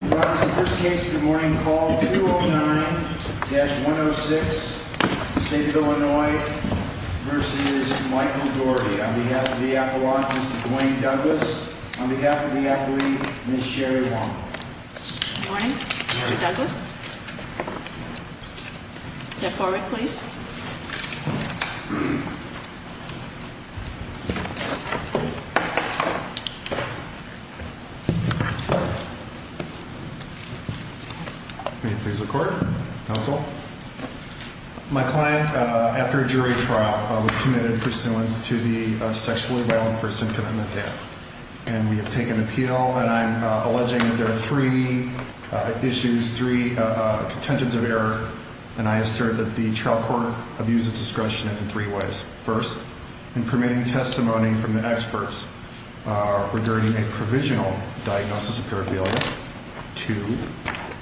The first case of the morning called 209-106, State of Illinois, versus Michael Doherty. On behalf of the Apple Watch, Mr. Dwayne Douglas. On behalf of the Apple Leaf, Ms. Sherry Wong. Good morning, Mr. Douglas. Step forward, please. May it please the Court. Counsel. My client, after a jury trial, was committed pursuant to the sexually violent person condemned to death. And we have taken appeal, and I'm alleging that there are three issues, three contentions of error. And I assert that the trial court abused its discretion in three ways. First, in permitting testimony from the experts regarding a provisional diagnosis of paraphernalia. Two,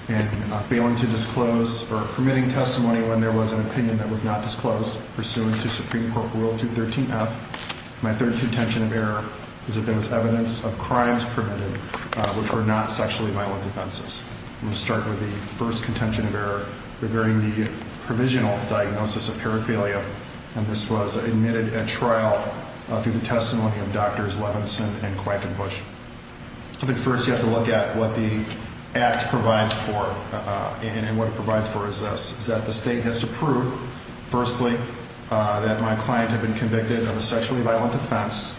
in failing to disclose or permitting testimony when there was an opinion that was not disclosed, pursuant to Supreme Court Rule 213-F. My third contention of error is that there was evidence of crimes permitted which were not sexually violent offenses. I'm going to start with the first contention of error regarding the provisional diagnosis of paraphernalia. And this was admitted at trial through the testimony of Drs. Levinson and Quackenbush. I think first you have to look at what the act provides for, and what it provides for is this, is that the state has to prove, firstly, that my client had been convicted of a sexually violent offense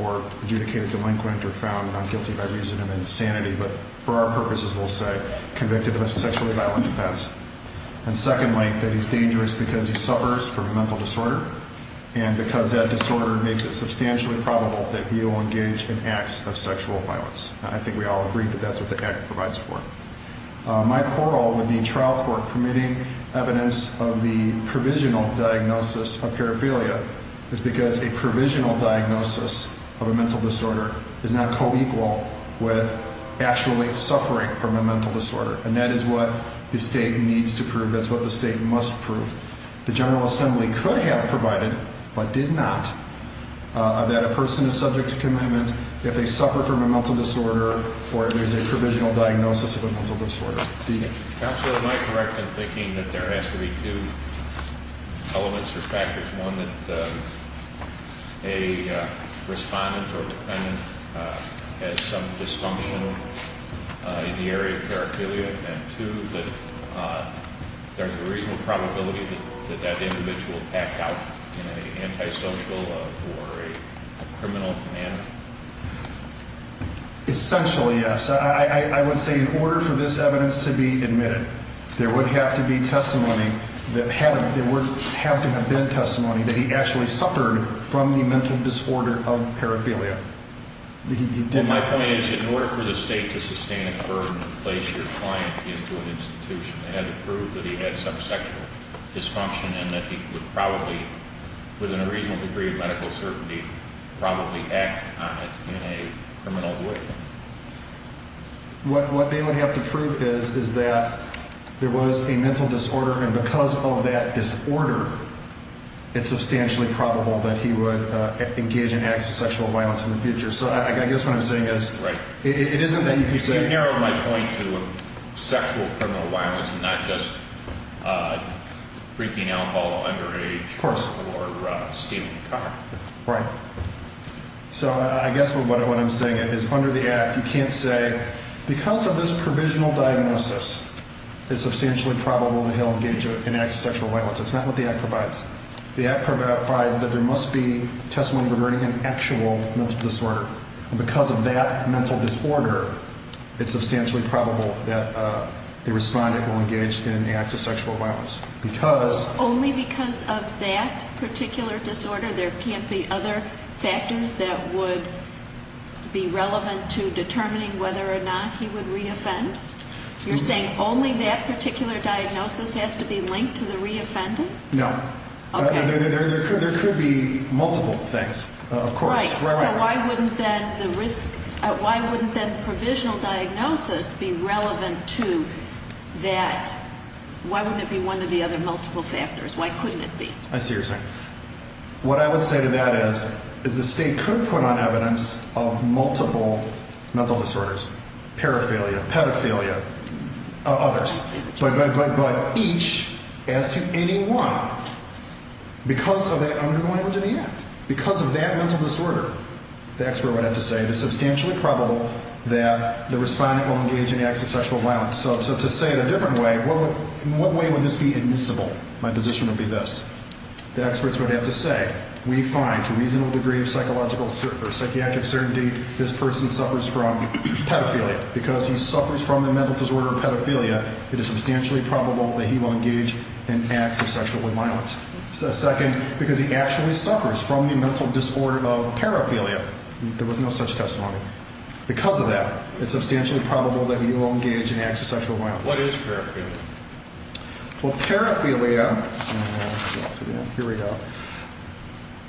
or adjudicated delinquent or found not guilty by reason of insanity, but for our purposes, we'll say, convicted of a sexually violent offense. And secondly, that he's dangerous because he suffers from a mental disorder. And because that disorder makes it substantially probable that he will engage in acts of sexual violence. I think we all agree that that's what the act provides for. My quarrel with the trial court permitting evidence of the provisional diagnosis of paraphernalia is because a provisional diagnosis of a mental disorder is not co-equal with actually suffering from a mental disorder. And that is what the state needs to prove. That's what the state must prove. The general assembly could have provided, but did not, that a person is subject to commitment if they suffer from a mental disorder or there's a provisional diagnosis of a mental disorder. Counselor, am I correct in thinking that there has to be two elements or factors? One, that a respondent or defendant has some dysfunction in the area of paraphernalia? But there's a reasonable probability that that individual packed out in an antisocial or a criminal manner? Essentially, yes. I would say in order for this evidence to be admitted, there would have to be testimony that he actually suffered from the mental disorder of paraphernalia. My point is that in order for the state to sustain a burden and place your client into an institution, they had to prove that he had some sexual dysfunction and that he would probably, within a reasonable degree of medical certainty, probably act on it in a criminal way. What they would have to prove is that there was a mental disorder, and because of that disorder, it's substantially probable that he would engage in acts of sexual violence in the future. So I guess what I'm saying is, it isn't that you can say... You've narrowed my point to sexual criminal violence and not just drinking alcohol underage or stealing a car. Right. So I guess what I'm saying is, under the Act, you can't say, because of this provisional diagnosis, it's substantially probable that he'll engage in acts of sexual violence. It's not what the Act provides. The Act provides that there must be testimony regarding an actual mental disorder, and because of that mental disorder, it's substantially probable that the respondent will engage in acts of sexual violence. Because... Only because of that particular disorder? There can't be other factors that would be relevant to determining whether or not he would re-offend? You're saying only that particular diagnosis has to be linked to the re-offending? No. Okay. There could be multiple things, of course. Right. So why wouldn't then the risk... Why wouldn't then the provisional diagnosis be relevant to that... Why wouldn't it be one of the other multiple factors? Why couldn't it be? I see what you're saying. What I would say to that is, is the State could put on evidence of multiple mental disorders, paraphernalia, pedophilia, others. I see what you're saying. But each, as to any one, because of that under the language of the Act, because of that mental disorder, the expert would have to say it is substantially probable that the respondent will engage in acts of sexual violence. So to say it a different way, in what way would this be admissible? My position would be this. The experts would have to say, we find, to a reasonable degree of psychiatric certainty, this person suffers from pedophilia. Because he suffers from the mental disorder pedophilia, it is substantially probable that he will engage in acts of sexual violence. Second, because he actually suffers from the mental disorder of paraphernalia, there was no such testimony. Because of that, it's substantially probable that he will engage in acts of sexual violence. What is paraphernalia? Well, paraphernalia, here we go.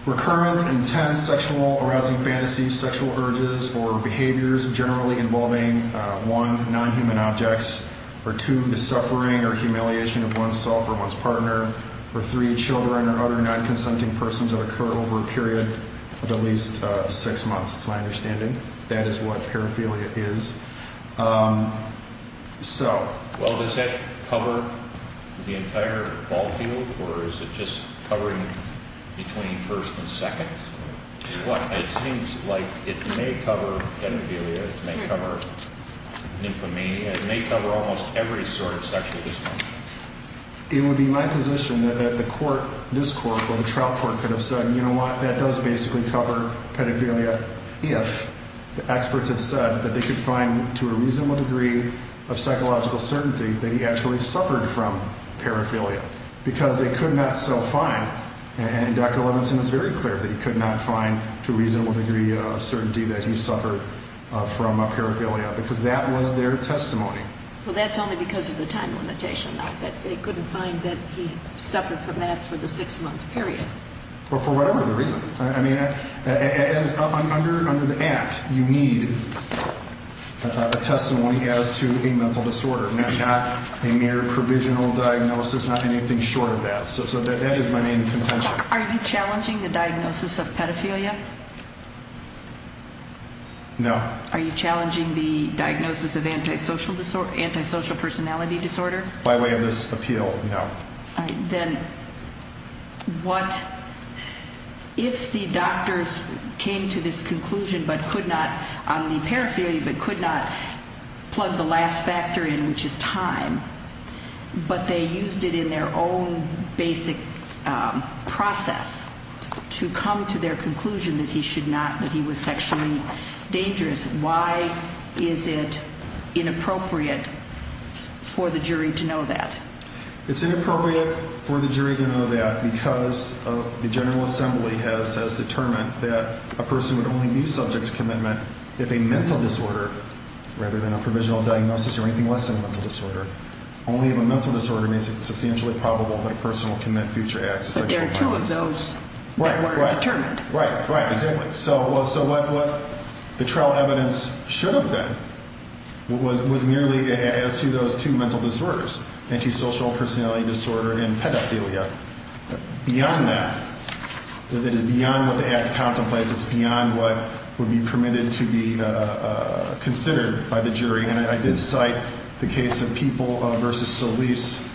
Recurrent, intense, sexual, arousing fantasies, sexual urges, or behaviors generally involving, one, non-human objects, or two, the suffering or humiliation of one's self or one's partner, or three, children or other non-consenting persons that occur over a period of at least six months, it's my understanding. That is what paraphernalia is. So. Well, does that cover the entire ball field, or is it just covering between first and second? It seems like it may cover pedophilia. It may cover nymphomania. It may cover almost every sort of sexual distinction. It would be my position that the court, this court or the trial court could have said, you know what, that does basically cover pedophilia if the experts have said that they could find to a reasonable degree of psychological certainty that he actually suffered from paraphernalia, because they could not so find, and Dr. Levinson was very clear that he could not find to a reasonable degree of certainty that he suffered from paraphernalia, because that was their testimony. Well, that's only because of the time limitation, not that they couldn't find that he suffered from that for the six-month period. Or for whatever the reason. I mean, under the act, you need a testimony as to a mental disorder, not a mere provisional diagnosis, not anything short of that. So that is my main contention. Are you challenging the diagnosis of pedophilia? No. Are you challenging the diagnosis of antisocial personality disorder? By way of this appeal, no. All right. Then what, if the doctors came to this conclusion but could not, on the paraphernalia, but could not plug the last factor in, which is time, but they used it in their own basic process to come to their conclusion that he should not, that he was sexually dangerous, why is it inappropriate for the jury to know that? It's inappropriate for the jury to know that because the General Assembly has determined that a person would only be subject to commitment if a mental disorder, rather than a provisional diagnosis or anything less than a mental disorder, only if a mental disorder is substantially probable that a person will commit future acts of sexual violence. But there are two of those that weren't determined. Right, right. Exactly. So what the trial evidence should have been was merely as to those two mental disorders, antisocial personality disorder and pedophilia. Beyond that, it is beyond what the act contemplates. It's beyond what would be permitted to be considered by the jury. And I did cite the case of People v. Solis,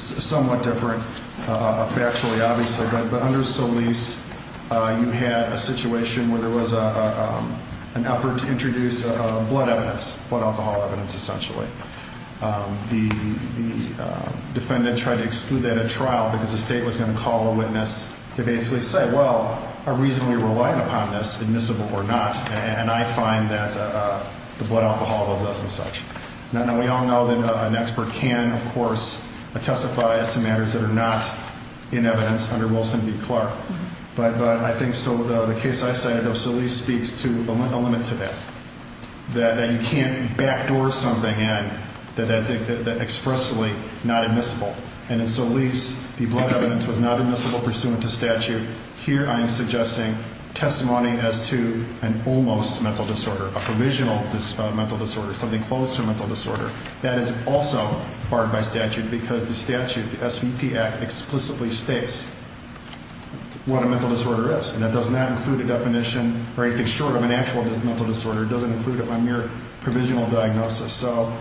somewhat different factually, obviously. But under Solis, you had a situation where there was an effort to introduce blood evidence, blood alcohol evidence, essentially. The defendant tried to exclude that at trial because the state was going to call a witness to basically say, well, our reason we relied upon this, admissible or not, and I find that the blood alcohol was less than such. Now, we all know that an expert can, of course, testify as to matters that are not in evidence under Wilson v. Clark. But I think the case I cited of Solis speaks to a limit to that, that you can't backdoor something in that's expressly not admissible. And in Solis, the blood evidence was not admissible pursuant to statute. Here I am suggesting testimony as to an almost mental disorder, a provisional mental disorder, something close to a mental disorder. That is also barred by statute because the statute, the SVP Act, explicitly states what a mental disorder is. And that does not include a definition or anything short of an actual mental disorder. It doesn't include a mere provisional diagnosis. So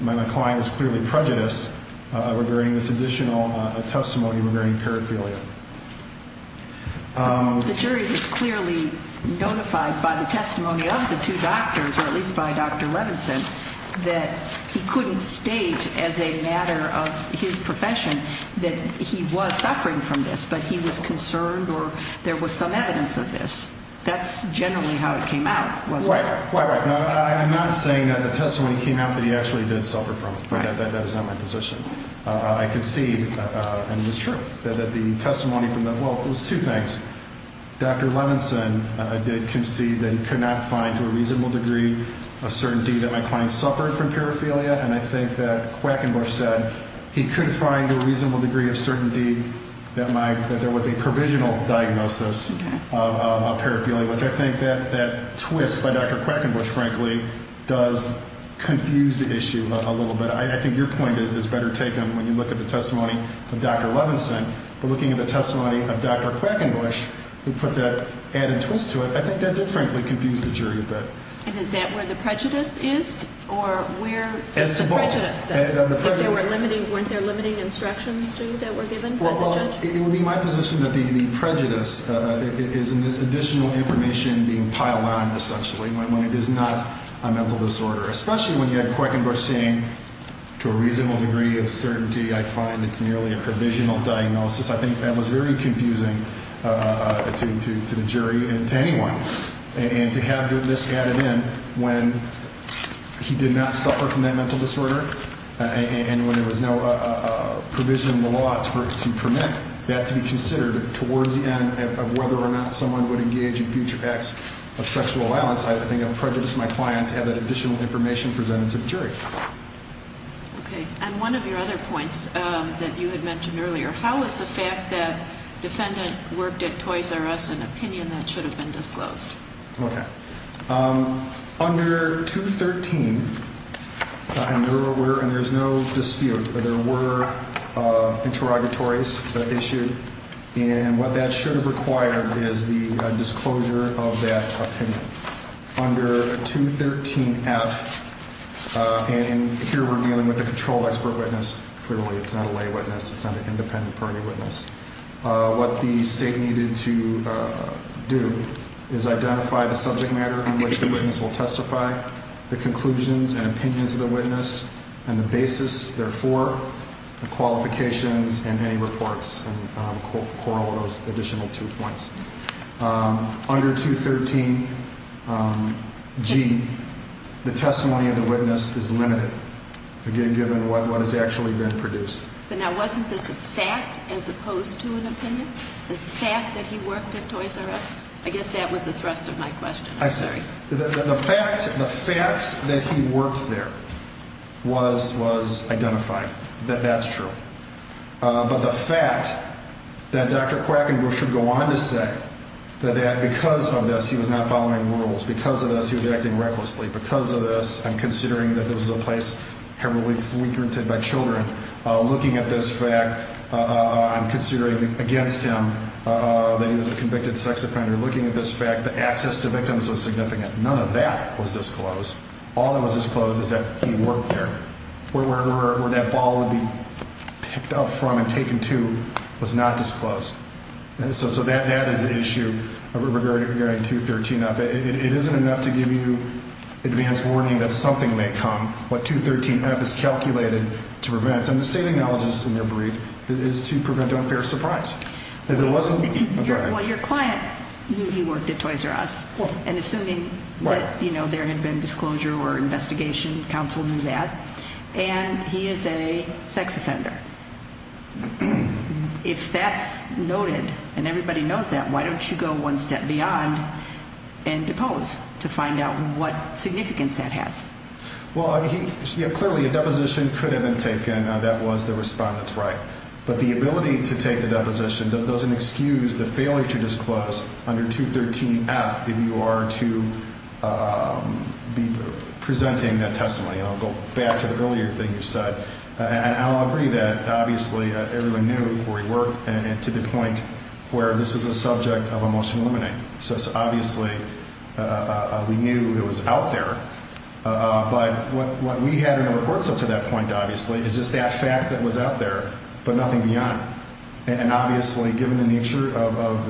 my client is clearly prejudiced regarding this additional testimony regarding paraphilia. The jury was clearly notified by the testimony of the two doctors, or at least by Dr. Levinson, that he couldn't state as a matter of his profession that he was suffering from this, but he was concerned or there was some evidence of this. That's generally how it came out, wasn't it? Right, right, right. I'm not saying that the testimony came out that he actually did suffer from it, but that is not my position. I concede, and it's true, that the testimony from the, well, it was two things. Dr. Levinson did concede that he could not find to a reasonable degree a certainty that my client suffered from paraphilia, and I think that Quackenbush said he could find a reasonable degree of certainty that there was a provisional diagnosis of paraphilia, which I think that twist by Dr. Quackenbush, frankly, does confuse the issue a little bit. I think your point is better taken when you look at the testimony of Dr. Levinson, but looking at the testimony of Dr. Quackenbush, who puts that added twist to it, I think that did, frankly, confuse the jury a bit. And is that where the prejudice is, or where is the prejudice? As to both. If there were limiting, weren't there limiting instructions to you that were given by the judge? It would be my position that the prejudice is in this additional information being piled on, essentially, when it is not a mental disorder, especially when you had Quackenbush saying to a reasonable degree of certainty I find it's merely a provisional diagnosis. I think that was very confusing to the jury and to anyone, and to have this added in when he did not suffer from that mental disorder and when there was no provision in the law to permit that to be considered towards the end of whether or not someone would engage in future acts of sexual violence, I think it would prejudice my client to have that additional information presented to the jury. Okay. And one of your other points that you had mentioned earlier, how is the fact that defendant worked at Toys R Us an opinion that should have been disclosed? Okay. Under 213, and there's no dispute that there were interrogatories that issued, and what that should have required is the disclosure of that opinion. Under 213F, and here we're dealing with a controlled expert witness. Clearly it's not a lay witness. It's not an independent party witness. What the state needed to do is identify the subject matter in which the witness will testify, the conclusions and opinions of the witness, and the basis, therefore, the qualifications, and any reports, and corral those additional two points. Under 213G, the testimony of the witness is limited, again, given what has actually been produced. But now wasn't this a fact as opposed to an opinion? The fact that he worked at Toys R Us? I guess that was the thrust of my question. I'm sorry. The fact that he worked there was identified, that that's true. But the fact that Dr. Quackenbush would go on to say that because of this he was not following rules, because of this he was acting recklessly, because of this I'm considering that this was a place heavily frequented by children. Looking at this fact, I'm considering against him that he was a convicted sex offender. Looking at this fact, the access to victims was significant. None of that was disclosed. All that was disclosed is that he worked there. Where that ball would be picked up from and taken to was not disclosed. So that is the issue regarding 213F. But it isn't enough to give you advance warning that something may come, what 213F is calculated to prevent. And the state acknowledges in their brief that it is to prevent unfair surprise. If it wasn't, okay. Well, your client knew he worked at Toys R Us. And assuming that there had been disclosure or investigation, counsel knew that. And he is a sex offender. If that's noted and everybody knows that, why don't you go one step beyond and depose to find out what significance that has? Well, clearly a deposition could have been taken that was the respondent's right. But the ability to take the deposition doesn't excuse the failure to disclose under 213F if you are to be presenting that testimony. I'll go back to the earlier thing you said. And I'll agree that obviously everyone knew where he worked to the point where this was a subject of a motion to eliminate. So obviously we knew it was out there. But what we had in the reports up to that point, obviously, is just that fact that was out there but nothing beyond. And obviously given the nature of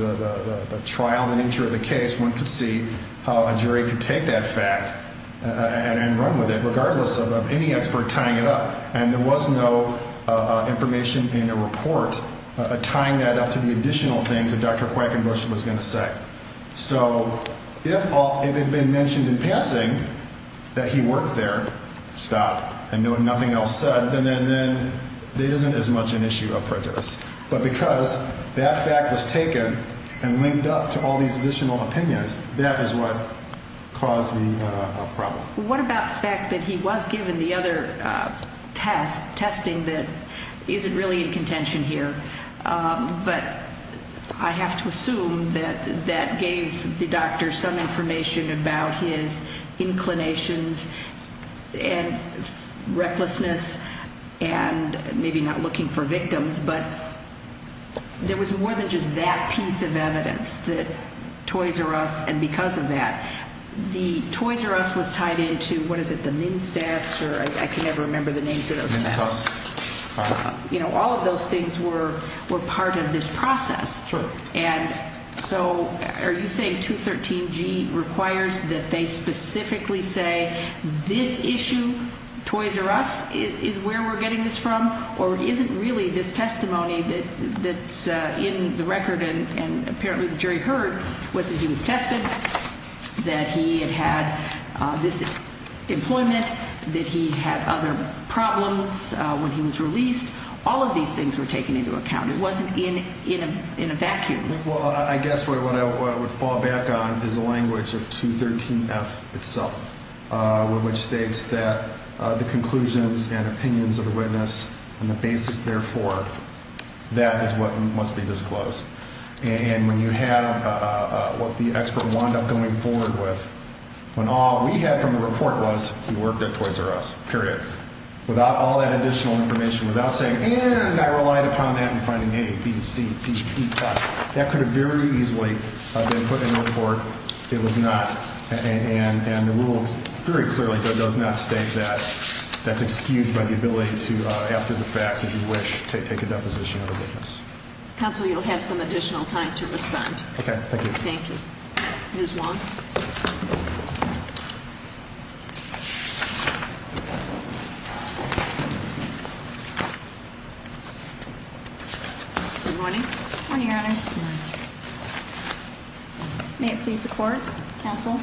the trial, the nature of the case, one could see how a jury could take that fact and run with it, regardless of any expert tying it up. And there was no information in a report tying that up to the additional things that Dr. Quackenbush was going to say. So if it had been mentioned in passing that he worked there, stop, and nothing else said, then it isn't as much an issue of prejudice. But because that fact was taken and linked up to all these additional opinions, that is what caused the problem. What about the fact that he was given the other test, testing that isn't really in contention here? But I have to assume that that gave the doctor some information about his inclinations and recklessness and maybe not looking for victims. But there was more than just that piece of evidence that Toys R Us and because of that. The Toys R Us was tied into, what is it, the MnSTATs or I can never remember the names of those tests. MnSTATs. You know, all of those things were part of this process. True. And so are you saying 213G requires that they specifically say this issue, Toys R Us, is where we're getting this from? Or is it really this testimony that's in the record and apparently the jury heard was that he was tested, that he had had this employment, that he had other problems when he was released? All of these things were taken into account. It wasn't in a vacuum. Well, I guess what I would fall back on is the language of 213F itself, which states that the conclusions and opinions of the witness and the basis, therefore, that is what must be disclosed. And when you have what the expert wound up going forward with, when all we had from the report was he worked at Toys R Us, period. Without all that additional information, without saying, and I relied upon that in finding A, B, C, D, E, F, that could have very easily been put in the report. It was not. And the rules very clearly does not state that. That's excused by the ability to, after the fact, if you wish, take a deposition of the witness. Counsel, you'll have some additional time to respond. Okay. Thank you. Thank you. Ms. Wong? Good morning. Good morning, Your Honors. May it please the court, counsel.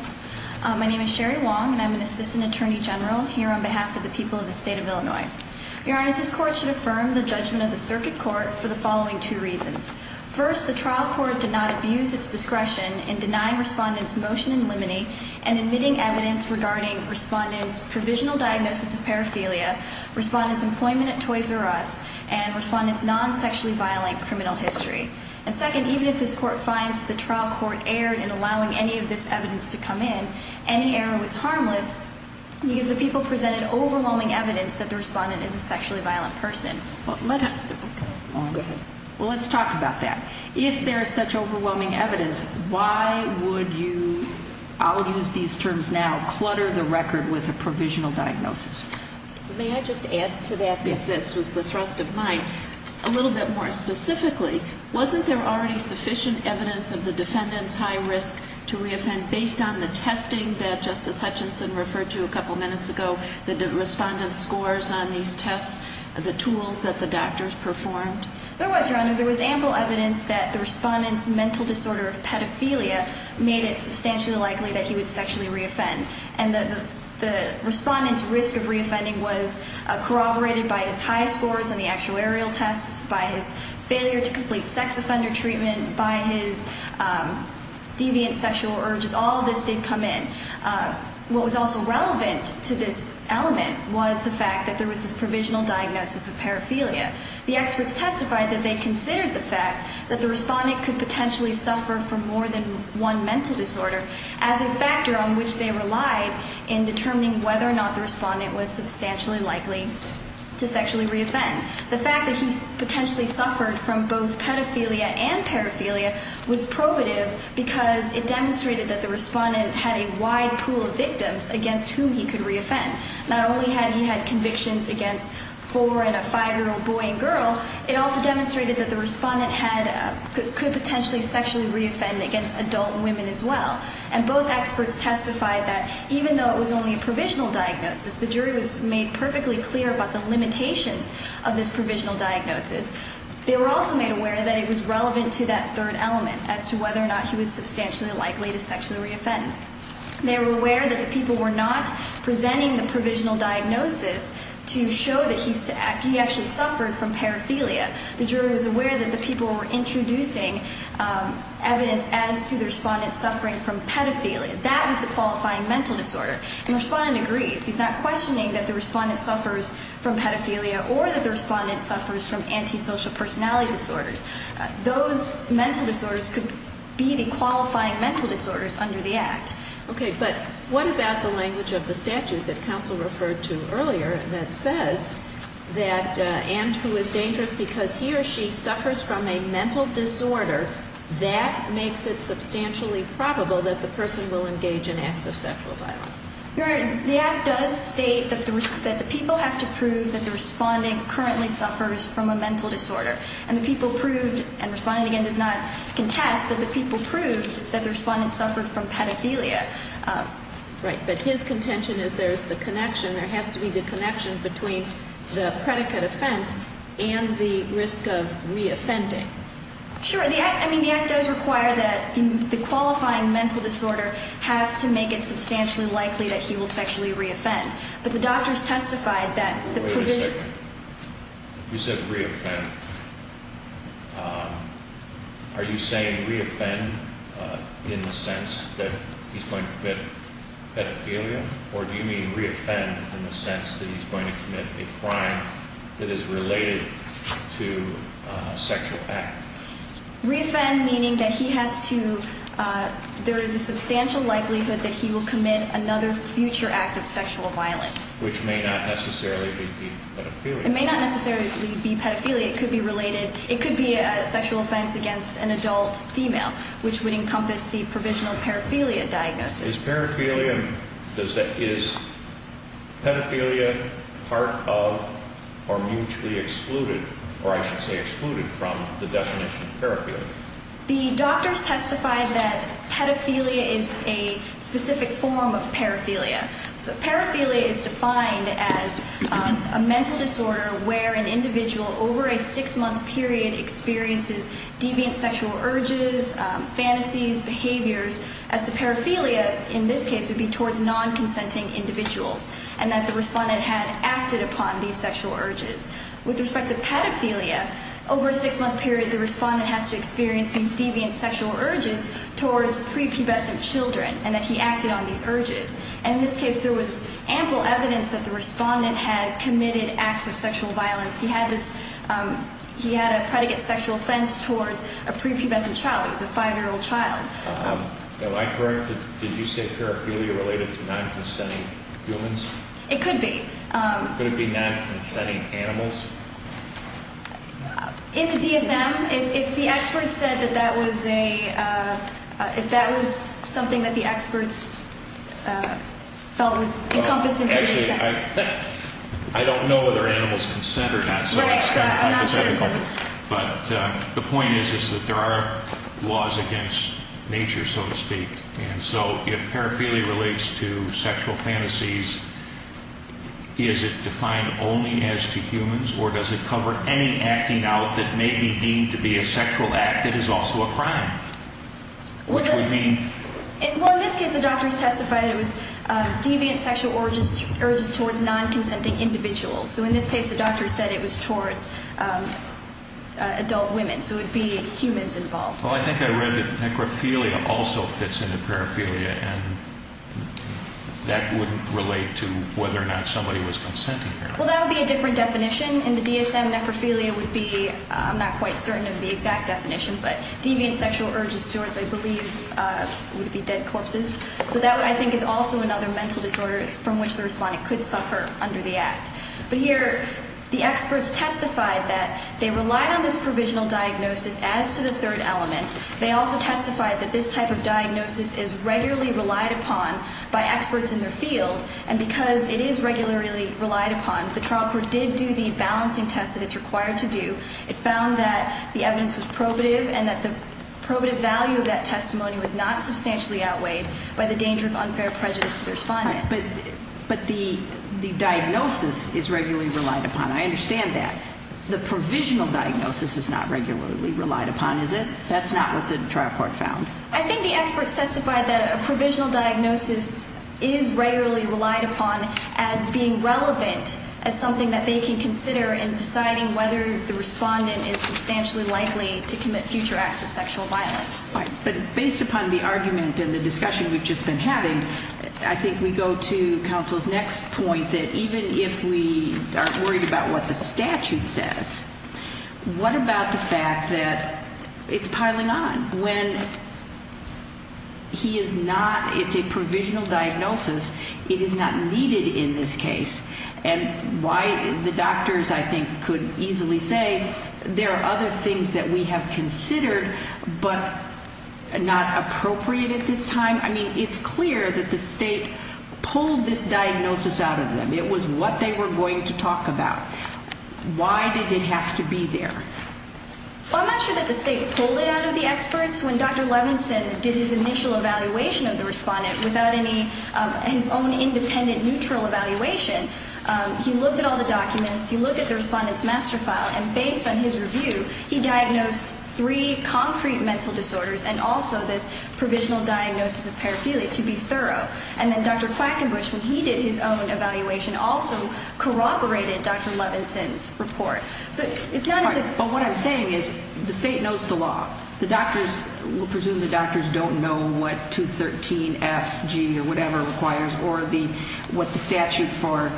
My name is Sherry Wong, and I'm an assistant attorney general here on behalf of the people of the state of Illinois. Your Honors, this court should affirm the judgment of the circuit court for the following two reasons. First, the trial court did not abuse its discretion in denying respondents' motion in limine and admitting evidence regarding respondents' provisional diagnosis of paraphilia. Respondents' employment at Toys R Us, and respondents' non-sexually violent criminal history. And second, even if this court finds the trial court erred in allowing any of this evidence to come in, any error was harmless, because the people presented overwhelming evidence that the respondent is a sexually violent person. Well, let's talk about that. If there is such overwhelming evidence, why would you, I'll use these terms now, clutter the record with a provisional diagnosis? May I just add to that? Yes. This was the thrust of mine. A little bit more specifically, wasn't there already sufficient evidence of the defendant's high risk to re-offend based on the testing that Justice Hutchinson referred to a couple minutes ago, the respondent's scores on these tests, the tools that the doctors performed? There was, Your Honor. There was ample evidence that the respondent's mental disorder of pedophilia made it substantially likely that he would sexually re-offend. And the respondent's risk of re-offending was corroborated by his high scores on the actuarial tests, by his failure to complete sex offender treatment, by his deviant sexual urges. All of this did come in. What was also relevant to this element was the fact that there was this provisional diagnosis of paraphilia. The experts testified that they considered the fact that the respondent could potentially suffer from more than one mental disorder as a factor on which they relied in determining whether or not the respondent was substantially likely to sexually re-offend. The fact that he potentially suffered from both pedophilia and paraphilia was probative because it demonstrated that the respondent had a wide pool of victims against whom he could re-offend. Not only had he had convictions against four and a five-year-old boy and girl, it also demonstrated that the respondent could potentially sexually re-offend against adult women as well. And both experts testified that even though it was only a provisional diagnosis, the jury was made perfectly clear about the limitations of this provisional diagnosis. They were also made aware that it was relevant to that third element as to whether or not he was substantially likely to sexually re-offend. They were aware that the people were not presenting the provisional diagnosis to show that he actually suffered from paraphilia. The jury was aware that the people were introducing evidence as to the respondent suffering from pedophilia. That was the qualifying mental disorder. And the respondent agrees. He's not questioning that the respondent suffers from pedophilia or that the respondent suffers from antisocial personality disorders. Those mental disorders could be the qualifying mental disorders under the Act. Okay. But what about the language of the statute that counsel referred to earlier that says that and who is dangerous because he or she suffers from a mental disorder, that makes it substantially probable that the person will engage in acts of sexual violence? The Act does state that the people have to prove that the respondent currently suffers from a mental disorder. And the people proved, and the respondent, again, does not contest, that the people proved that the respondent suffered from pedophilia. Right. But his contention is there is the connection. There has to be the connection between the predicate offense and the risk of re-offending. Sure. I mean, the Act does require that the qualifying mental disorder has to make it substantially likely that he will sexually re-offend. But the doctors testified that the provisional... Wait a second. You said re-offend. Are you saying re-offend in the sense that he's going to commit pedophilia? Or do you mean re-offend in the sense that he's going to commit a crime that is related to a sexual act? Re-offend meaning that he has to... There is a substantial likelihood that he will commit another future act of sexual violence. Which may not necessarily be pedophilia. It may not necessarily be pedophilia. It could be related. It could be a sexual offense against an adult female, which would encompass the provisional paraphilia diagnosis. Is paraphilia part of or mutually excluded, or I should say excluded, from the definition of paraphilia? The doctors testified that pedophilia is a specific form of paraphilia. So paraphilia is defined as a mental disorder where an individual over a six-month period experiences deviant sexual urges, fantasies, behaviors. As the paraphilia in this case would be towards non-consenting individuals. And that the respondent had acted upon these sexual urges. With respect to pedophilia, over a six-month period the respondent has to experience these deviant sexual urges towards prepubescent children. And that he acted on these urges. And in this case there was ample evidence that the respondent had committed acts of sexual violence. He had a predicate sexual offense towards a prepubescent child. It was a five-year-old child. Am I correct? Did you say paraphilia related to non-consenting humans? It could be. Could it be non-consenting animals? In the DSM, if the experts said that that was a, if that was something that the experts felt was encompassing. Actually, I don't know whether animals consent or not. Right. But the point is that there are laws against nature, so to speak. And so if paraphilia relates to sexual fantasies, is it defined only as to humans? Or does it cover any acting out that may be deemed to be a sexual act that is also a crime? Which would mean? Well, in this case the doctors testified it was deviant sexual urges towards non-consenting individuals. So in this case the doctors said it was towards adult women. So it would be humans involved. Well, I think I read that necrophilia also fits into paraphilia, and that would relate to whether or not somebody was consenting or not. Well, that would be a different definition. In the DSM, necrophilia would be, I'm not quite certain of the exact definition, but deviant sexual urges towards, I believe, would be dead corpses. So that, I think, is also another mental disorder from which the respondent could suffer under the act. But here the experts testified that they relied on this provisional diagnosis as to the third element. They also testified that this type of diagnosis is regularly relied upon by experts in their field, and because it is regularly relied upon, the trial court did do the balancing test that it's required to do. It found that the evidence was probative, and that the probative value of that testimony was not substantially outweighed by the danger of unfair prejudice to the respondent. But the diagnosis is regularly relied upon. I understand that. The provisional diagnosis is not regularly relied upon, is it? That's not what the trial court found. I think the experts testified that a provisional diagnosis is regularly relied upon as being relevant, as something that they can consider in deciding whether the respondent is substantially likely to commit future acts of sexual violence. But based upon the argument and the discussion we've just been having, I think we go to counsel's next point that even if we aren't worried about what the statute says, what about the fact that it's piling on? When he is not, it's a provisional diagnosis, it is not needed in this case. And why the doctors, I think, could easily say there are other things that we have considered, but not appropriate at this time. I mean, it's clear that the state pulled this diagnosis out of them. It was what they were going to talk about. Why did it have to be there? Well, I'm not sure that the state pulled it out of the experts. When Dr. Levinson did his initial evaluation of the respondent without any of his own independent neutral evaluation, he looked at all the documents, he looked at the respondent's master file, and based on his review, he diagnosed three concrete mental disorders and also this provisional diagnosis of paraphilia to be thorough. And then Dr. Quackenbush, when he did his own evaluation, also corroborated Dr. Levinson's report. But what I'm saying is the state knows the law. We'll presume the doctors don't know what 213FG or whatever requires or what the statute for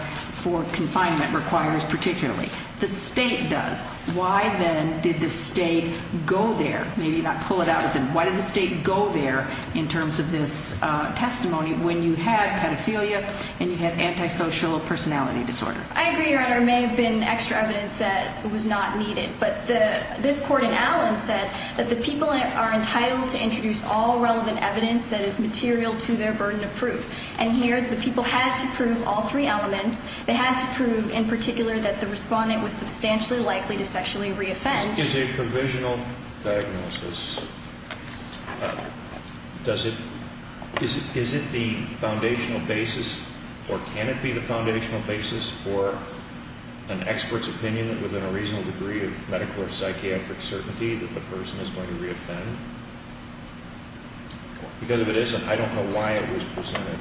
confinement requires particularly. The state does. Why then did the state go there, maybe not pull it out of them, why did the state go there in terms of this testimony when you had paraphilia and you had antisocial personality disorder? I agree, Your Honor. There may have been extra evidence that was not needed. But this court in Allen said that the people are entitled to introduce all relevant evidence that is material to their burden of proof. And here the people had to prove all three elements. They had to prove in particular that the respondent was substantially likely to sexually reoffend. Is a provisional diagnosis, is it the foundational basis or can it be the foundational basis for an expert's opinion that within a reasonable degree of medical or psychiatric certainty that the person is going to reoffend? Because if it isn't, I don't know why it was presented.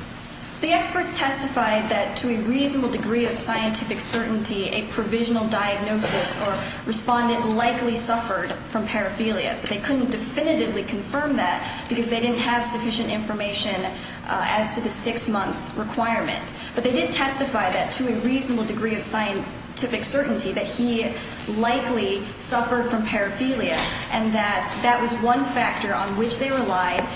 The experts testified that to a reasonable degree of scientific certainty, a provisional diagnosis or respondent likely suffered from paraphilia. But they couldn't definitively confirm that because they didn't have sufficient information as to the six-month requirement. But they did testify that to a reasonable degree of scientific certainty that he likely suffered from paraphilia and that that was one factor on which they relied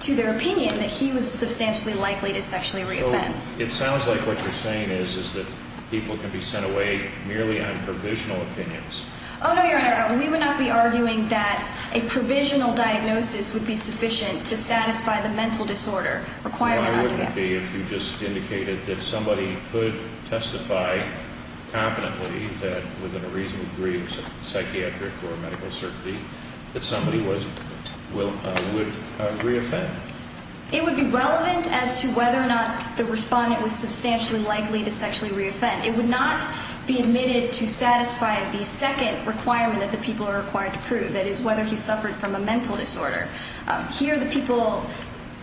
to their opinion that he was substantially likely to sexually reoffend. It sounds like what you're saying is that people can be sent away merely on provisional opinions. Oh, no, Your Honor. We would not be arguing that a provisional diagnosis would be sufficient to satisfy the mental disorder requirement. No, it wouldn't be if you just indicated that somebody could testify confidently that within a reasonable degree of psychiatric or medical certainty that somebody would reoffend. It would be relevant as to whether or not the respondent was substantially likely to sexually reoffend. It would not be admitted to satisfy the second requirement that the people are required to prove, that is, whether he suffered from a mental disorder. Here, the people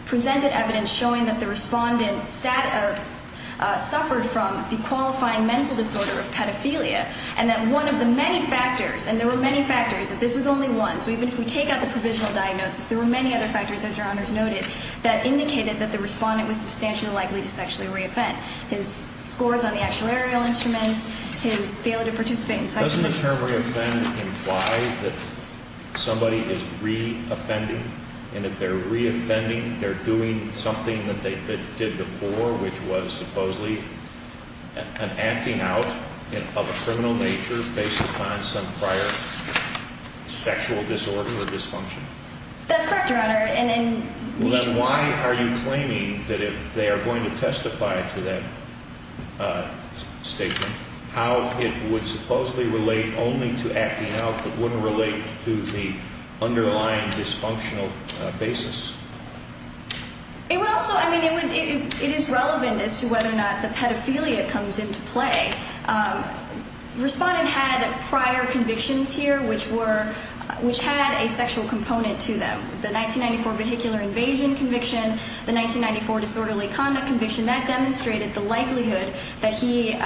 presented evidence showing that the respondent suffered from the qualifying mental disorder of paraphilia and that one of the many factors, and there were many factors, that this was only one. So even if we take out the provisional diagnosis, there were many other factors, as Your Honor has noted, that indicated that the respondent was substantially likely to sexually reoffend. His scores on the actuarial instruments, his failure to participate in sexual intercourse. Doesn't the term reoffend imply that somebody is reoffending? And if they're reoffending, they're doing something that they did before, which was supposedly an acting out of a criminal nature based upon some prior sexual disorder or dysfunction? That's correct, Your Honor, and then we should... Then why are you claiming that if they are going to testify to that statement, how it would supposedly relate only to acting out but wouldn't relate to the underlying dysfunctional basis? It would also, I mean, it is relevant as to whether or not the pedophilia comes into play. Respondent had prior convictions here which were, which had a sexual component to them. The 1994 vehicular invasion conviction, the 1994 disorderly conduct conviction, that demonstrated the likelihood that he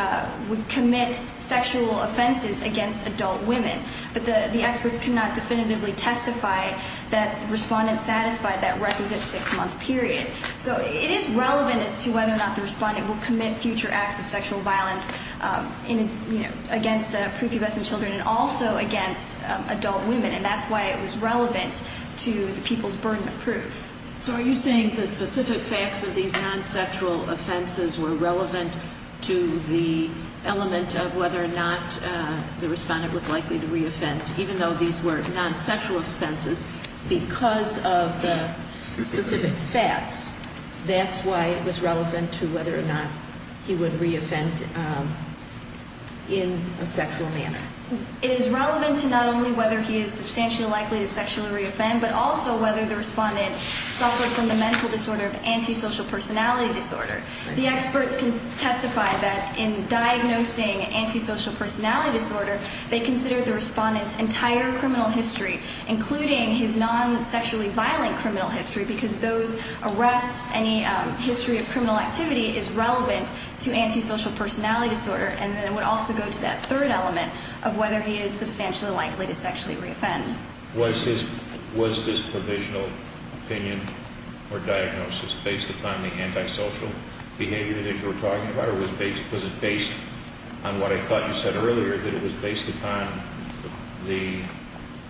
would commit sexual offenses against adult women. But the experts cannot definitively testify that the respondent satisfied that requisite six-month period. So it is relevant as to whether or not the respondent will commit future acts of sexual violence against pre-pubescent children and also against adult women, and that's why it was relevant to the people's burden of proof. So are you saying the specific facts of these non-sexual offenses were relevant to the element of whether or not the respondent was likely to re-offend even though these were non-sexual offenses because of the specific facts, that's why it was relevant to whether or not he would re-offend in a sexual manner? It is relevant to not only whether he is substantially likely to sexually re-offend but also whether the respondent suffered from the mental disorder of antisocial personality disorder. The experts can testify that in diagnosing antisocial personality disorder, they considered the respondent's entire criminal history, including his non-sexually violent criminal history, because those arrests, any history of criminal activity is relevant to antisocial personality disorder, and then it would also go to that third element of whether he is substantially likely to sexually re-offend. Was this provisional opinion or diagnosis based upon the antisocial behavior that you were talking about, or was it based on what I thought you said earlier, that it was based upon the,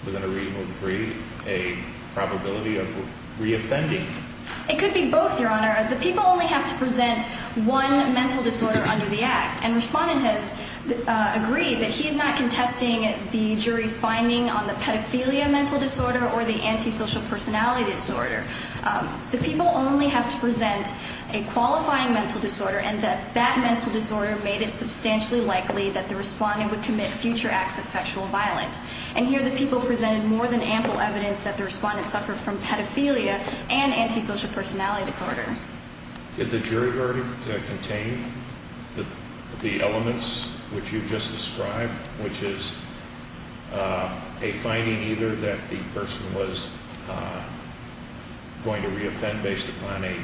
within a reasonable degree, a probability of re-offending? It could be both, Your Honor. The people only have to present one mental disorder under the Act, and the respondent has agreed that he is not contesting the jury's finding on the pedophilia mental disorder or the antisocial personality disorder. The people only have to present a qualifying mental disorder and that that mental disorder made it substantially likely that the respondent would commit future acts of sexual violence. And here the people presented more than ample evidence that the respondent suffered from pedophilia and antisocial personality disorder. Did the jury verdict contain the elements which you just described, which is a finding either that the person was going to re-offend based upon a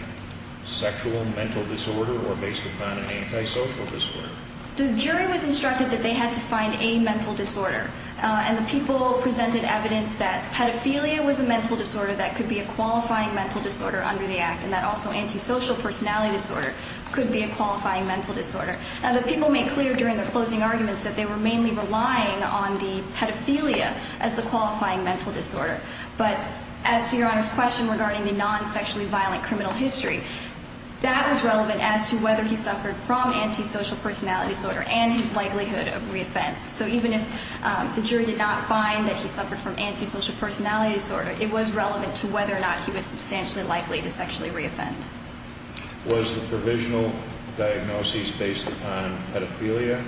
sexual mental disorder or based upon an antisocial disorder? The jury was instructed that they had to find a mental disorder, and the people presented evidence that pedophilia was a mental disorder that could be a qualifying mental disorder under the Act, and that also antisocial personality disorder could be a qualifying mental disorder. Now, the people made clear during their closing arguments that they were mainly relying on the pedophilia as the qualifying mental disorder. But as to Your Honor's question regarding the non-sexually violent criminal history, that was relevant as to whether he suffered from antisocial personality disorder and his likelihood of re-offense. So even if the jury did not find that he suffered from antisocial personality disorder, it was relevant to whether or not he was substantially likely to sexually re-offend. Was the provisional diagnosis based upon pedophilia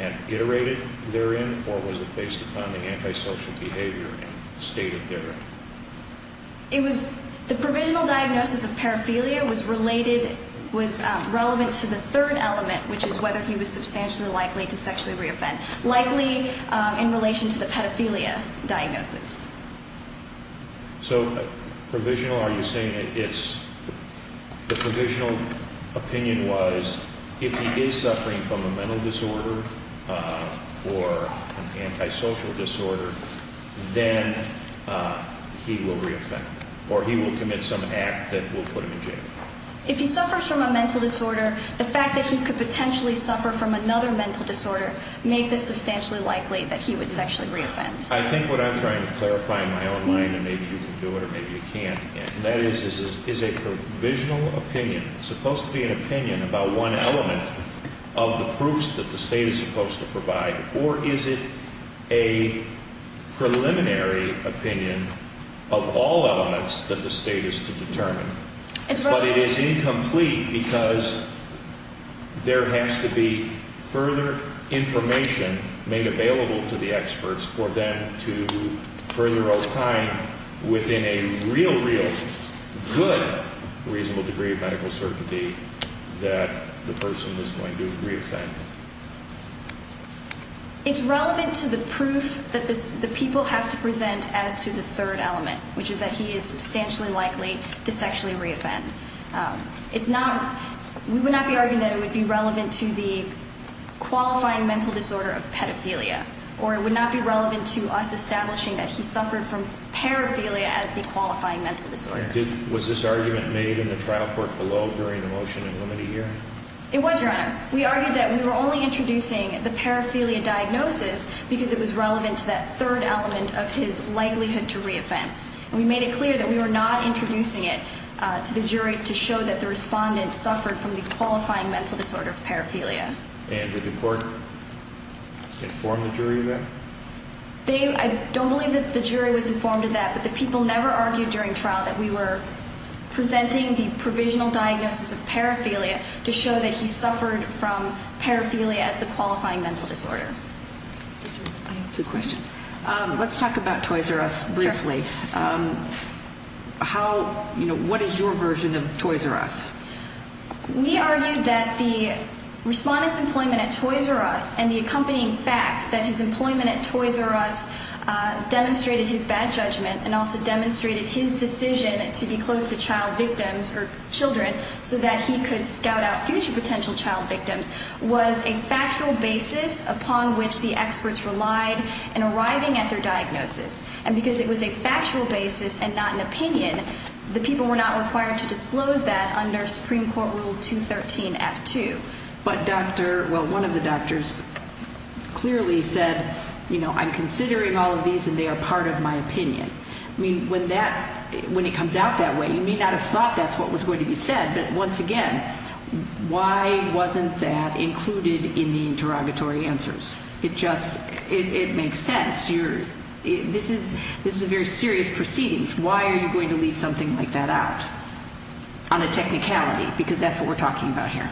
and iterated therein, or was it based upon the antisocial behavior and stated therein? The provisional diagnosis of pedophilia was related, was relevant to the third element, which is whether he was substantially likely to sexually re-offend, likely in relation to the pedophilia diagnosis. So provisional, are you saying that it's – the provisional opinion was if he is suffering from a mental disorder or an antisocial disorder, then he will re-offend, or he will commit some act that will put him in jail. If he suffers from a mental disorder, the fact that he could potentially suffer from another mental disorder makes it substantially likely that he would sexually re-offend. I think what I'm trying to clarify in my own mind, and maybe you can do it or maybe you can't, and that is, is a provisional opinion supposed to be an opinion about one element of the proofs that the State is supposed to provide, or is it a preliminary opinion of all elements that the State is to determine? But it is incomplete because there has to be further information made available to the experts for them to further opine within a real, real good reasonable degree of medical certainty that the person is going to re-offend. It's relevant to the proof that the people have to present as to the third element, which is that he is substantially likely to sexually re-offend. We would not be arguing that it would be relevant to the qualifying mental disorder of pedophilia, or it would not be relevant to us establishing that he suffered from paraphilia as the qualifying mental disorder. Was this argument made in the trial court below during the motion and limited hearing? It was, Your Honor. We argued that we were only introducing the paraphilia diagnosis because it was relevant to that third element of his likelihood to re-offense. We made it clear that we were not introducing it to the jury to show that the respondent suffered from the qualifying mental disorder of paraphilia. And did the court inform the jury of that? I don't believe that the jury was informed of that, but the people never argued during trial that we were presenting the provisional diagnosis of paraphilia to show that he suffered from paraphilia as the qualifying mental disorder. I have two questions. Let's talk about Toys R Us briefly. What is your version of Toys R Us? We argued that the respondent's employment at Toys R Us and the accompanying fact that his employment at Toys R Us demonstrated his bad judgment and also demonstrated his decision to be close to child victims or children so that he could scout out future potential child victims was a factual basis upon which the experts relied in arriving at their diagnosis. And because it was a factual basis and not an opinion, the people were not required to disclose that under Supreme Court Rule 213-F2. But, Doctor, well, one of the doctors clearly said, you know, I'm considering all of these and they are part of my opinion. I mean, when that, when it comes out that way, you may not have thought that's what was going to be said, but once again, why wasn't that included in the interrogatory answers? It just, it makes sense. This is a very serious proceedings. Why are you going to leave something like that out on a technicality? Because that's what we're talking about here.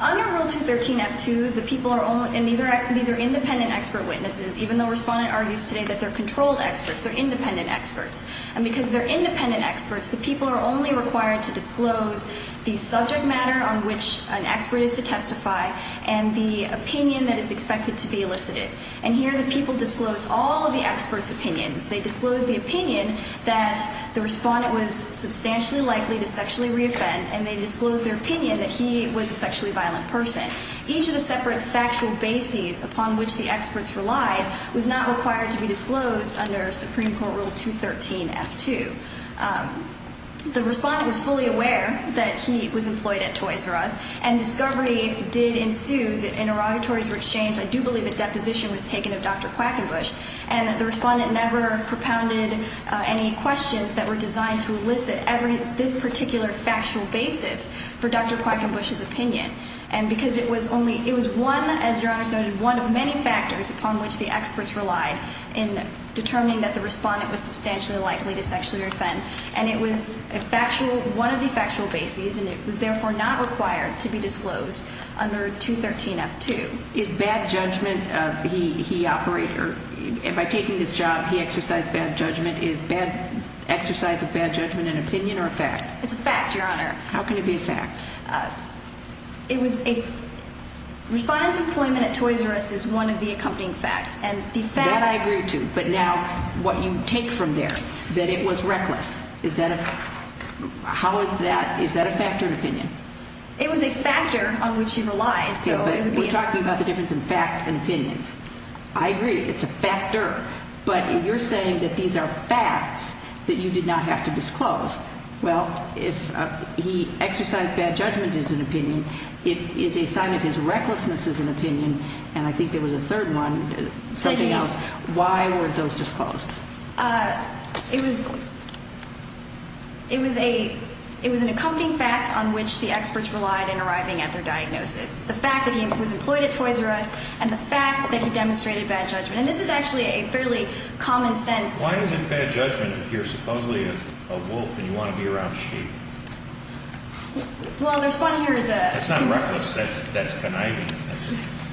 Under Rule 213-F2, the people are only, and these are independent expert witnesses, even though Respondent argues today that they're controlled experts, they're independent experts. And because they're independent experts, the people are only required to disclose the subject matter on which an expert is to testify and the opinion that is expected to be elicited. And here the people disclosed all of the experts' opinions. They disclosed the opinion that the Respondent was substantially likely to sexually reoffend, and they disclosed their opinion that he was a sexually violent person. Each of the separate factual bases upon which the experts relied was not required to be disclosed under Supreme Court Rule 213-F2. The Respondent was fully aware that he was employed at Toys R Us, and discovery did ensue that interrogatories were exchanged. I do believe a deposition was taken of Dr. Quackenbush, and the Respondent never propounded any questions that were designed to elicit this particular factual basis for Dr. Quackenbush's opinion. And because it was only – it was one, as Your Honor noted, one of many factors upon which the experts relied in determining that the Respondent was substantially likely to sexually reoffend. And it was a factual – one of the factual bases, and it was therefore not required to be disclosed under 213-F2. Is bad judgment – he operated – by taking this job, he exercised bad judgment. Is bad – exercise of bad judgment an opinion or a fact? It's a fact, Your Honor. How can it be a fact? It was a – Respondent's employment at Toys R Us is one of the accompanying facts, and the fact – That I agree to, but now what you take from there, that it was reckless, is that a – how is that – is that a fact or an opinion? It was a factor on which he relied, so it would be a – Yeah, but we're talking about the difference in fact and opinions. I agree it's a factor, but you're saying that these are facts that you did not have to disclose. Well, if he exercised bad judgment as an opinion, it is a sign of his recklessness as an opinion, and I think there was a third one, something else. Why weren't those disclosed? It was – it was a – it was an accompanying fact on which the experts relied in arriving at their diagnosis. The fact that he was employed at Toys R Us and the fact that he demonstrated bad judgment. And this is actually a fairly common sense – Why is it bad judgment if you're supposedly a wolf and you want to be around sheep? Well, there's one here who's a – That's not reckless. That's conniving.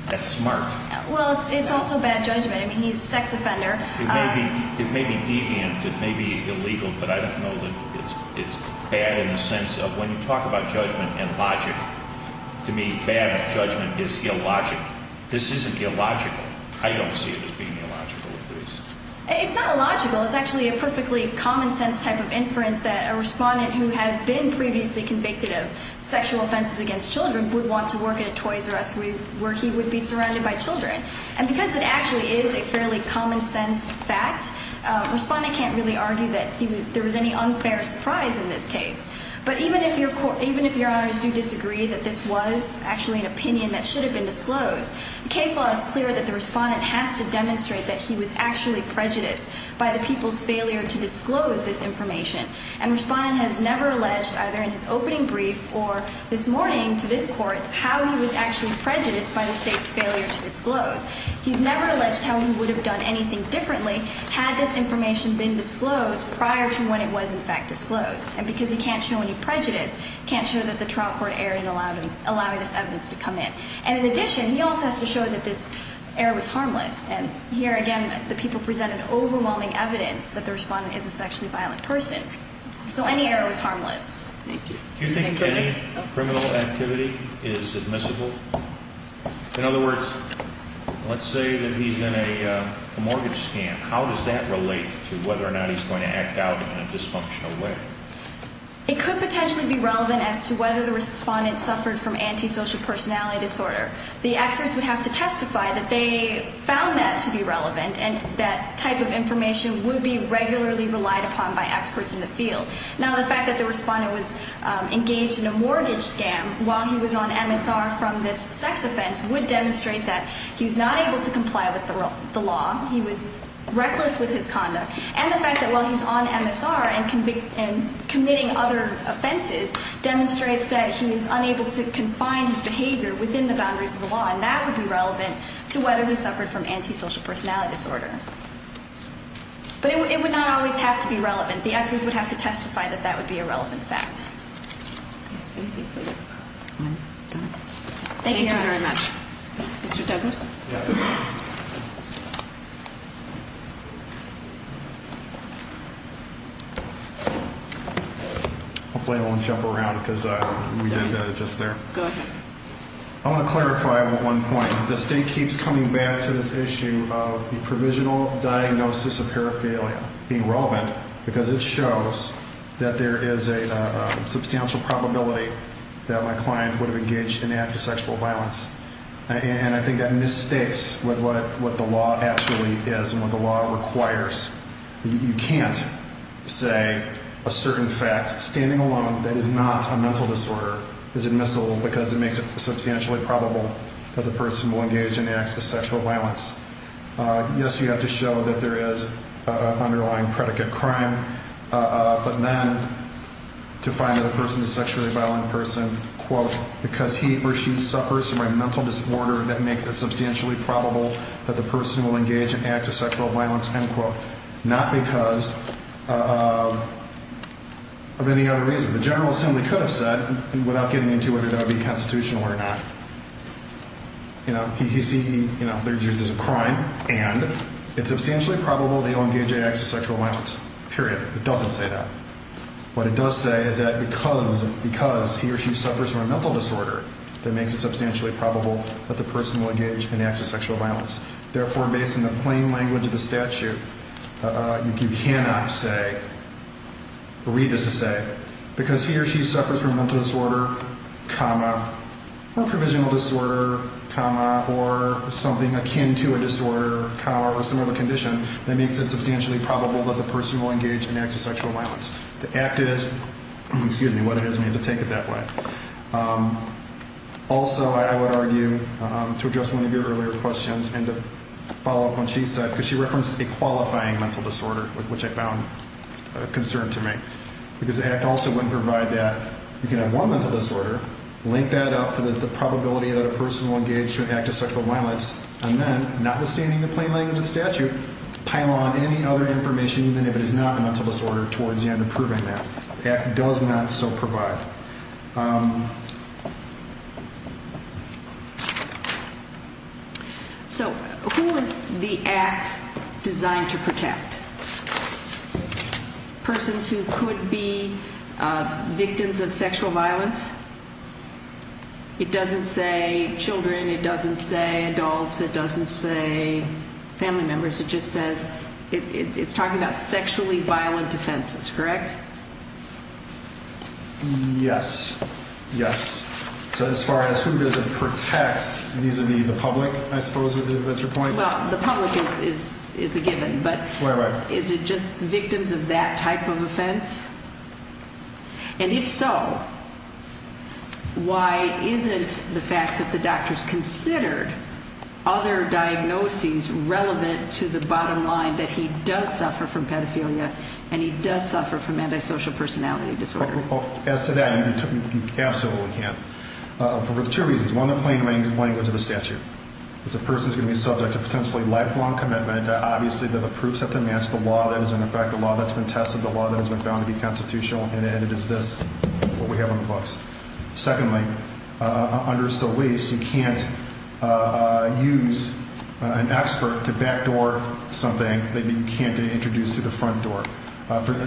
That's smart. Well, it's also bad judgment. I mean, he's a sex offender. It may be deviant. It may be illegal. But I don't know that it's bad in the sense of when you talk about judgment and logic, to me bad judgment is illogical. This isn't illogical. I don't see it as being illogical at least. It's not illogical. It's actually a perfectly common sense type of inference that a respondent who has been previously convicted of sexual offenses against children would want to work at a Toys R Us where he would be surrounded by children. And because it actually is a fairly common sense fact, a respondent can't really argue that there was any unfair surprise in this case. But even if your – even if Your Honors do disagree that this was actually an opinion that should have been disclosed, the case law is clear that the respondent has to demonstrate that he was actually prejudiced by the people's failure to disclose this information. And the respondent has never alleged, either in his opening brief or this morning to this court, how he was actually prejudiced by the state's failure to disclose. He's never alleged how he would have done anything differently had this information been disclosed prior to when it was in fact disclosed. And because he can't show any prejudice, he can't show that the trial court erred in allowing this evidence to come in. And in addition, he also has to show that this error was harmless. And here again, the people presented overwhelming evidence that the respondent is a sexually violent person. So any error was harmless. Thank you. Do you think any criminal activity is admissible? In other words, let's say that he's in a mortgage scam. How does that relate to whether or not he's going to act out in a dysfunctional way? It could potentially be relevant as to whether the respondent suffered from antisocial personality disorder. The experts would have to testify that they found that to be relevant, and that type of information would be regularly relied upon by experts in the field. Now, the fact that the respondent was engaged in a mortgage scam while he was on MSR from this sex offense would demonstrate that he's not able to comply with the law. He was reckless with his conduct. And the fact that while he's on MSR and committing other offenses demonstrates that he is unable to confine his behavior within the boundaries of the law, and that would be relevant to whether he suffered from antisocial personality disorder. But it would not always have to be relevant. The experts would have to testify that that would be a relevant fact. Thank you very much. Mr. Douglas? Hopefully I won't jump around because we did that just there. Go ahead. I want to clarify one point. The state keeps coming back to this issue of the provisional diagnosis of paraphernalia being relevant because it shows that there is a substantial probability that my client would have engaged in antisexual violence. And I think that misstates what the law actually is and what the law requires. You can't say a certain fact, standing alone, that is not a mental disorder, is admissible because it makes it substantially probable that the person will engage in antisexual violence. Yes, you have to show that there is underlying predicate crime, but then to find that a person is a sexually violent person, quote, because he or she suffers from a mental disorder that makes it substantially probable that the person will engage in antisexual violence, end quote, not because of any other reason. The General Assembly could have said, without getting into whether that would be constitutional or not, you know, there's a crime and it's substantially probable they'll engage in antisexual violence, period. It doesn't say that. What it does say is that because he or she suffers from a mental disorder, that makes it substantially probable that the person will engage in antisexual violence. Therefore, based on the plain language of the statute, you cannot say, read this as say, because he or she suffers from mental disorder, comma, or provisional disorder, comma, or something akin to a disorder, comma, or similar condition, that makes it substantially probable that the person will engage in antisexual violence. The act is, excuse me, what it is, we have to take it that way. Also, I would argue, to address one of your earlier questions and to follow up on what she said, because she referenced a qualifying mental disorder, which I found a concern to make, because the act also wouldn't provide that. You can have one mental disorder, link that up to the probability that a person will engage in antisexual violence, and then, notwithstanding the plain language of the statute, pile on any other information, even if it is not a mental disorder, towards the end of proving that. The act does not so provide. So, who is the act designed to protect? Persons who could be victims of sexual violence? It doesn't say children, it doesn't say adults, it doesn't say family members, it just says, it's talking about sexually violent offenses, correct? Yes, yes. So, as far as who does it protect, these would be the public, I suppose, if that's your point. Well, the public is the given, but... Is it just victims of that type of offense? And if so, why isn't the fact that the doctor's considered other diagnoses relevant to the bottom line that he does suffer from pedophilia and he does suffer from antisocial personality disorder? As to that, you absolutely can. For two reasons, one, the plain language of the statute. As a person is going to be subject to potentially lifelong commitment, obviously the proofs have to match the law that is in effect, the law that's been tested, the law that has been found to be constitutional, and it is this, what we have on the books. Secondly, under Solis, you can't use an expert to backdoor something that you can't introduce to the front door.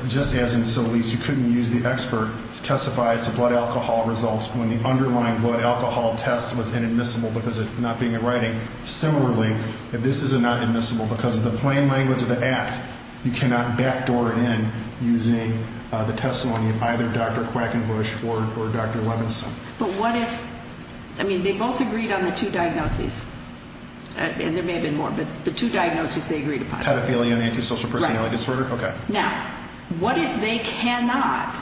Just as in Solis, you couldn't use the expert to testify as to blood alcohol results when the underlying blood alcohol test was inadmissible because it's not being in writing. Similarly, if this is not admissible because of the plain language of the act, you cannot backdoor it in using the testimony of either Dr. Quackenbush or Dr. Levinson. But what if, I mean, they both agreed on the two diagnoses, and there may have been more, but the two diagnoses they agreed upon. Pedophilia and antisocial personality disorder? Right. Okay. Now, what if they cannot,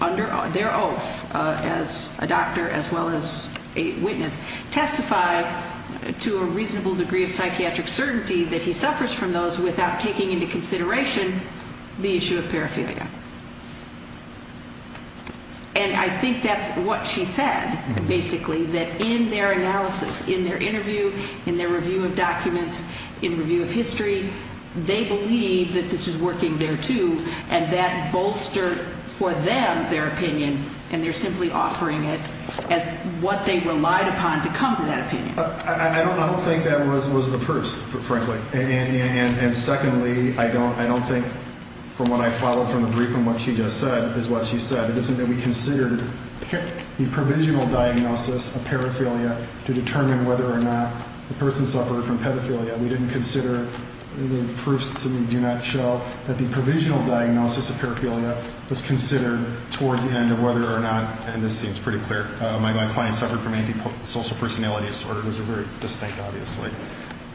under their oath as a doctor as well as a witness, testify to a reasonable degree of psychiatric certainty that he suffers from those without taking into consideration the issue of paraphilia? And I think that's what she said, basically, that in their analysis, in their interview, in their review of documents, in review of history, they believe that this is working there too, and that bolstered for them their opinion, and they're simply offering it as what they relied upon to come to that opinion. I don't think that was the purse, frankly. And secondly, I don't think, from what I follow from the brief and what she just said, is what she said, it isn't that we considered the provisional diagnosis of paraphilia to determine whether or not the person suffered from pedophilia. We didn't consider the proofs that we do not show that the provisional diagnosis of paraphilia was considered towards the end of whether or not, and this seems pretty clear, my client suffered from antisocial personality disorder. Those are very distinct, obviously.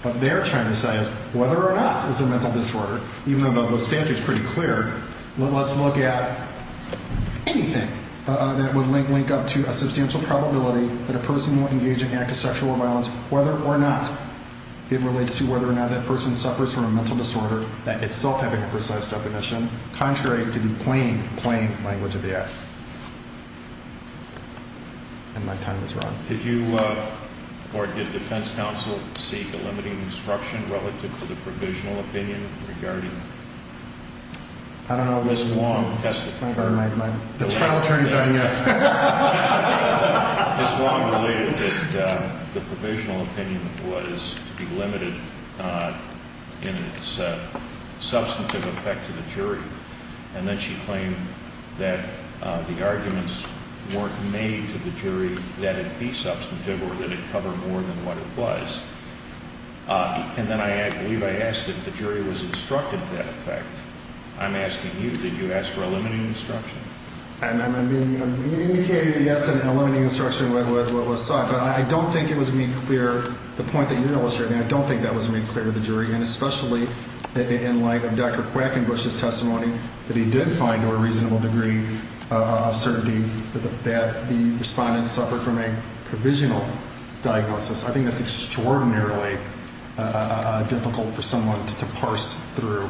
What they're trying to say is whether or not it's a mental disorder, even though the statute is pretty clear, let's look at anything that would link up to a substantial probability that a person will engage in an act of sexual violence, whether or not it relates to whether or not that person suffers from a mental disorder, that itself having a precise definition, contrary to the plain, plain language of the act. And my time is run. Did you, or did defense counsel seek a limiting instruction relative to the provisional opinion regarding Ms. Wong? The trial attorneys are yes. Ms. Wong believed that the provisional opinion was to be limited in its substantive effect to the jury, and then she claimed that the arguments weren't made to the jury that it be substantive or that it cover more than what it was. And then I believe I asked if the jury was instructed to that effect. I'm asking you, did you ask for a limiting instruction? I mean, you indicated yes, a limiting instruction was sought, but I don't think it was made clear, the point that you're illustrating, I don't think that was made clear to the jury, and especially in light of Dr. Quackenbush's testimony that he did find to a reasonable degree of certainty that the respondent suffered from a provisional diagnosis. I think that's extraordinarily difficult for someone to parse through,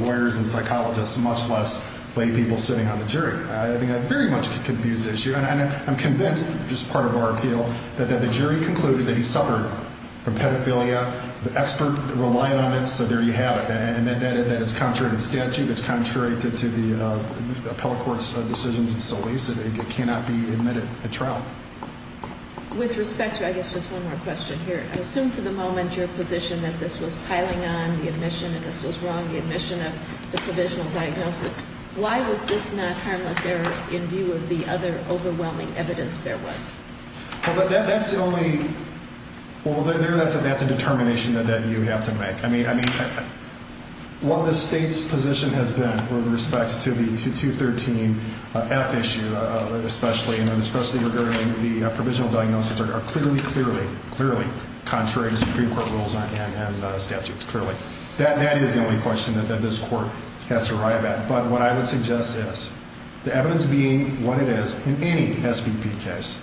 lawyers and psychologists much less laypeople sitting on the jury. I think that very much confused the issue, and I'm convinced, just part of our appeal, that the jury concluded that he suffered from pedophilia. The expert relied on it, so there you have it. And that is contrary to the statute. It's contrary to the appellate court's decisions in Solis. It cannot be admitted at trial. With respect to, I guess, just one more question here, I assume for the moment your position that this was piling on the admission and this was wrong, the admission of the provisional diagnosis. Why was this not harmless error in view of the other overwhelming evidence there was? Well, that's the only, well, that's a determination that you have to make. I mean, what the state's position has been with respect to the 2213F issue, especially regarding the provisional diagnosis, are clearly, clearly, clearly contrary to Supreme Court rules and statutes, clearly. That is the only question that this court has to arrive at. But what I would suggest is, the evidence being what it is in any SVP case,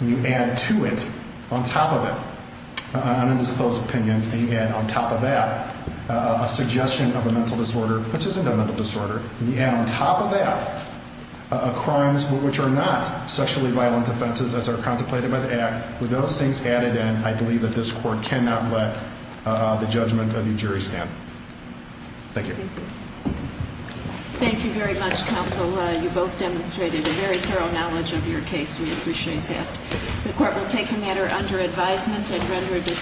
and you add to it, on top of it, an undisclosed opinion, and you add on top of that a suggestion of a mental disorder, which isn't a mental disorder, and you add on top of that crimes which are not sexually violent offenses as are contemplated by the Act, with those things added in, I believe that this court cannot let the judgment of the jury stand. Thank you. Thank you very much, counsel. You both demonstrated a very thorough knowledge of your case. We appreciate that. The court will take the matter under advisement and render a decision.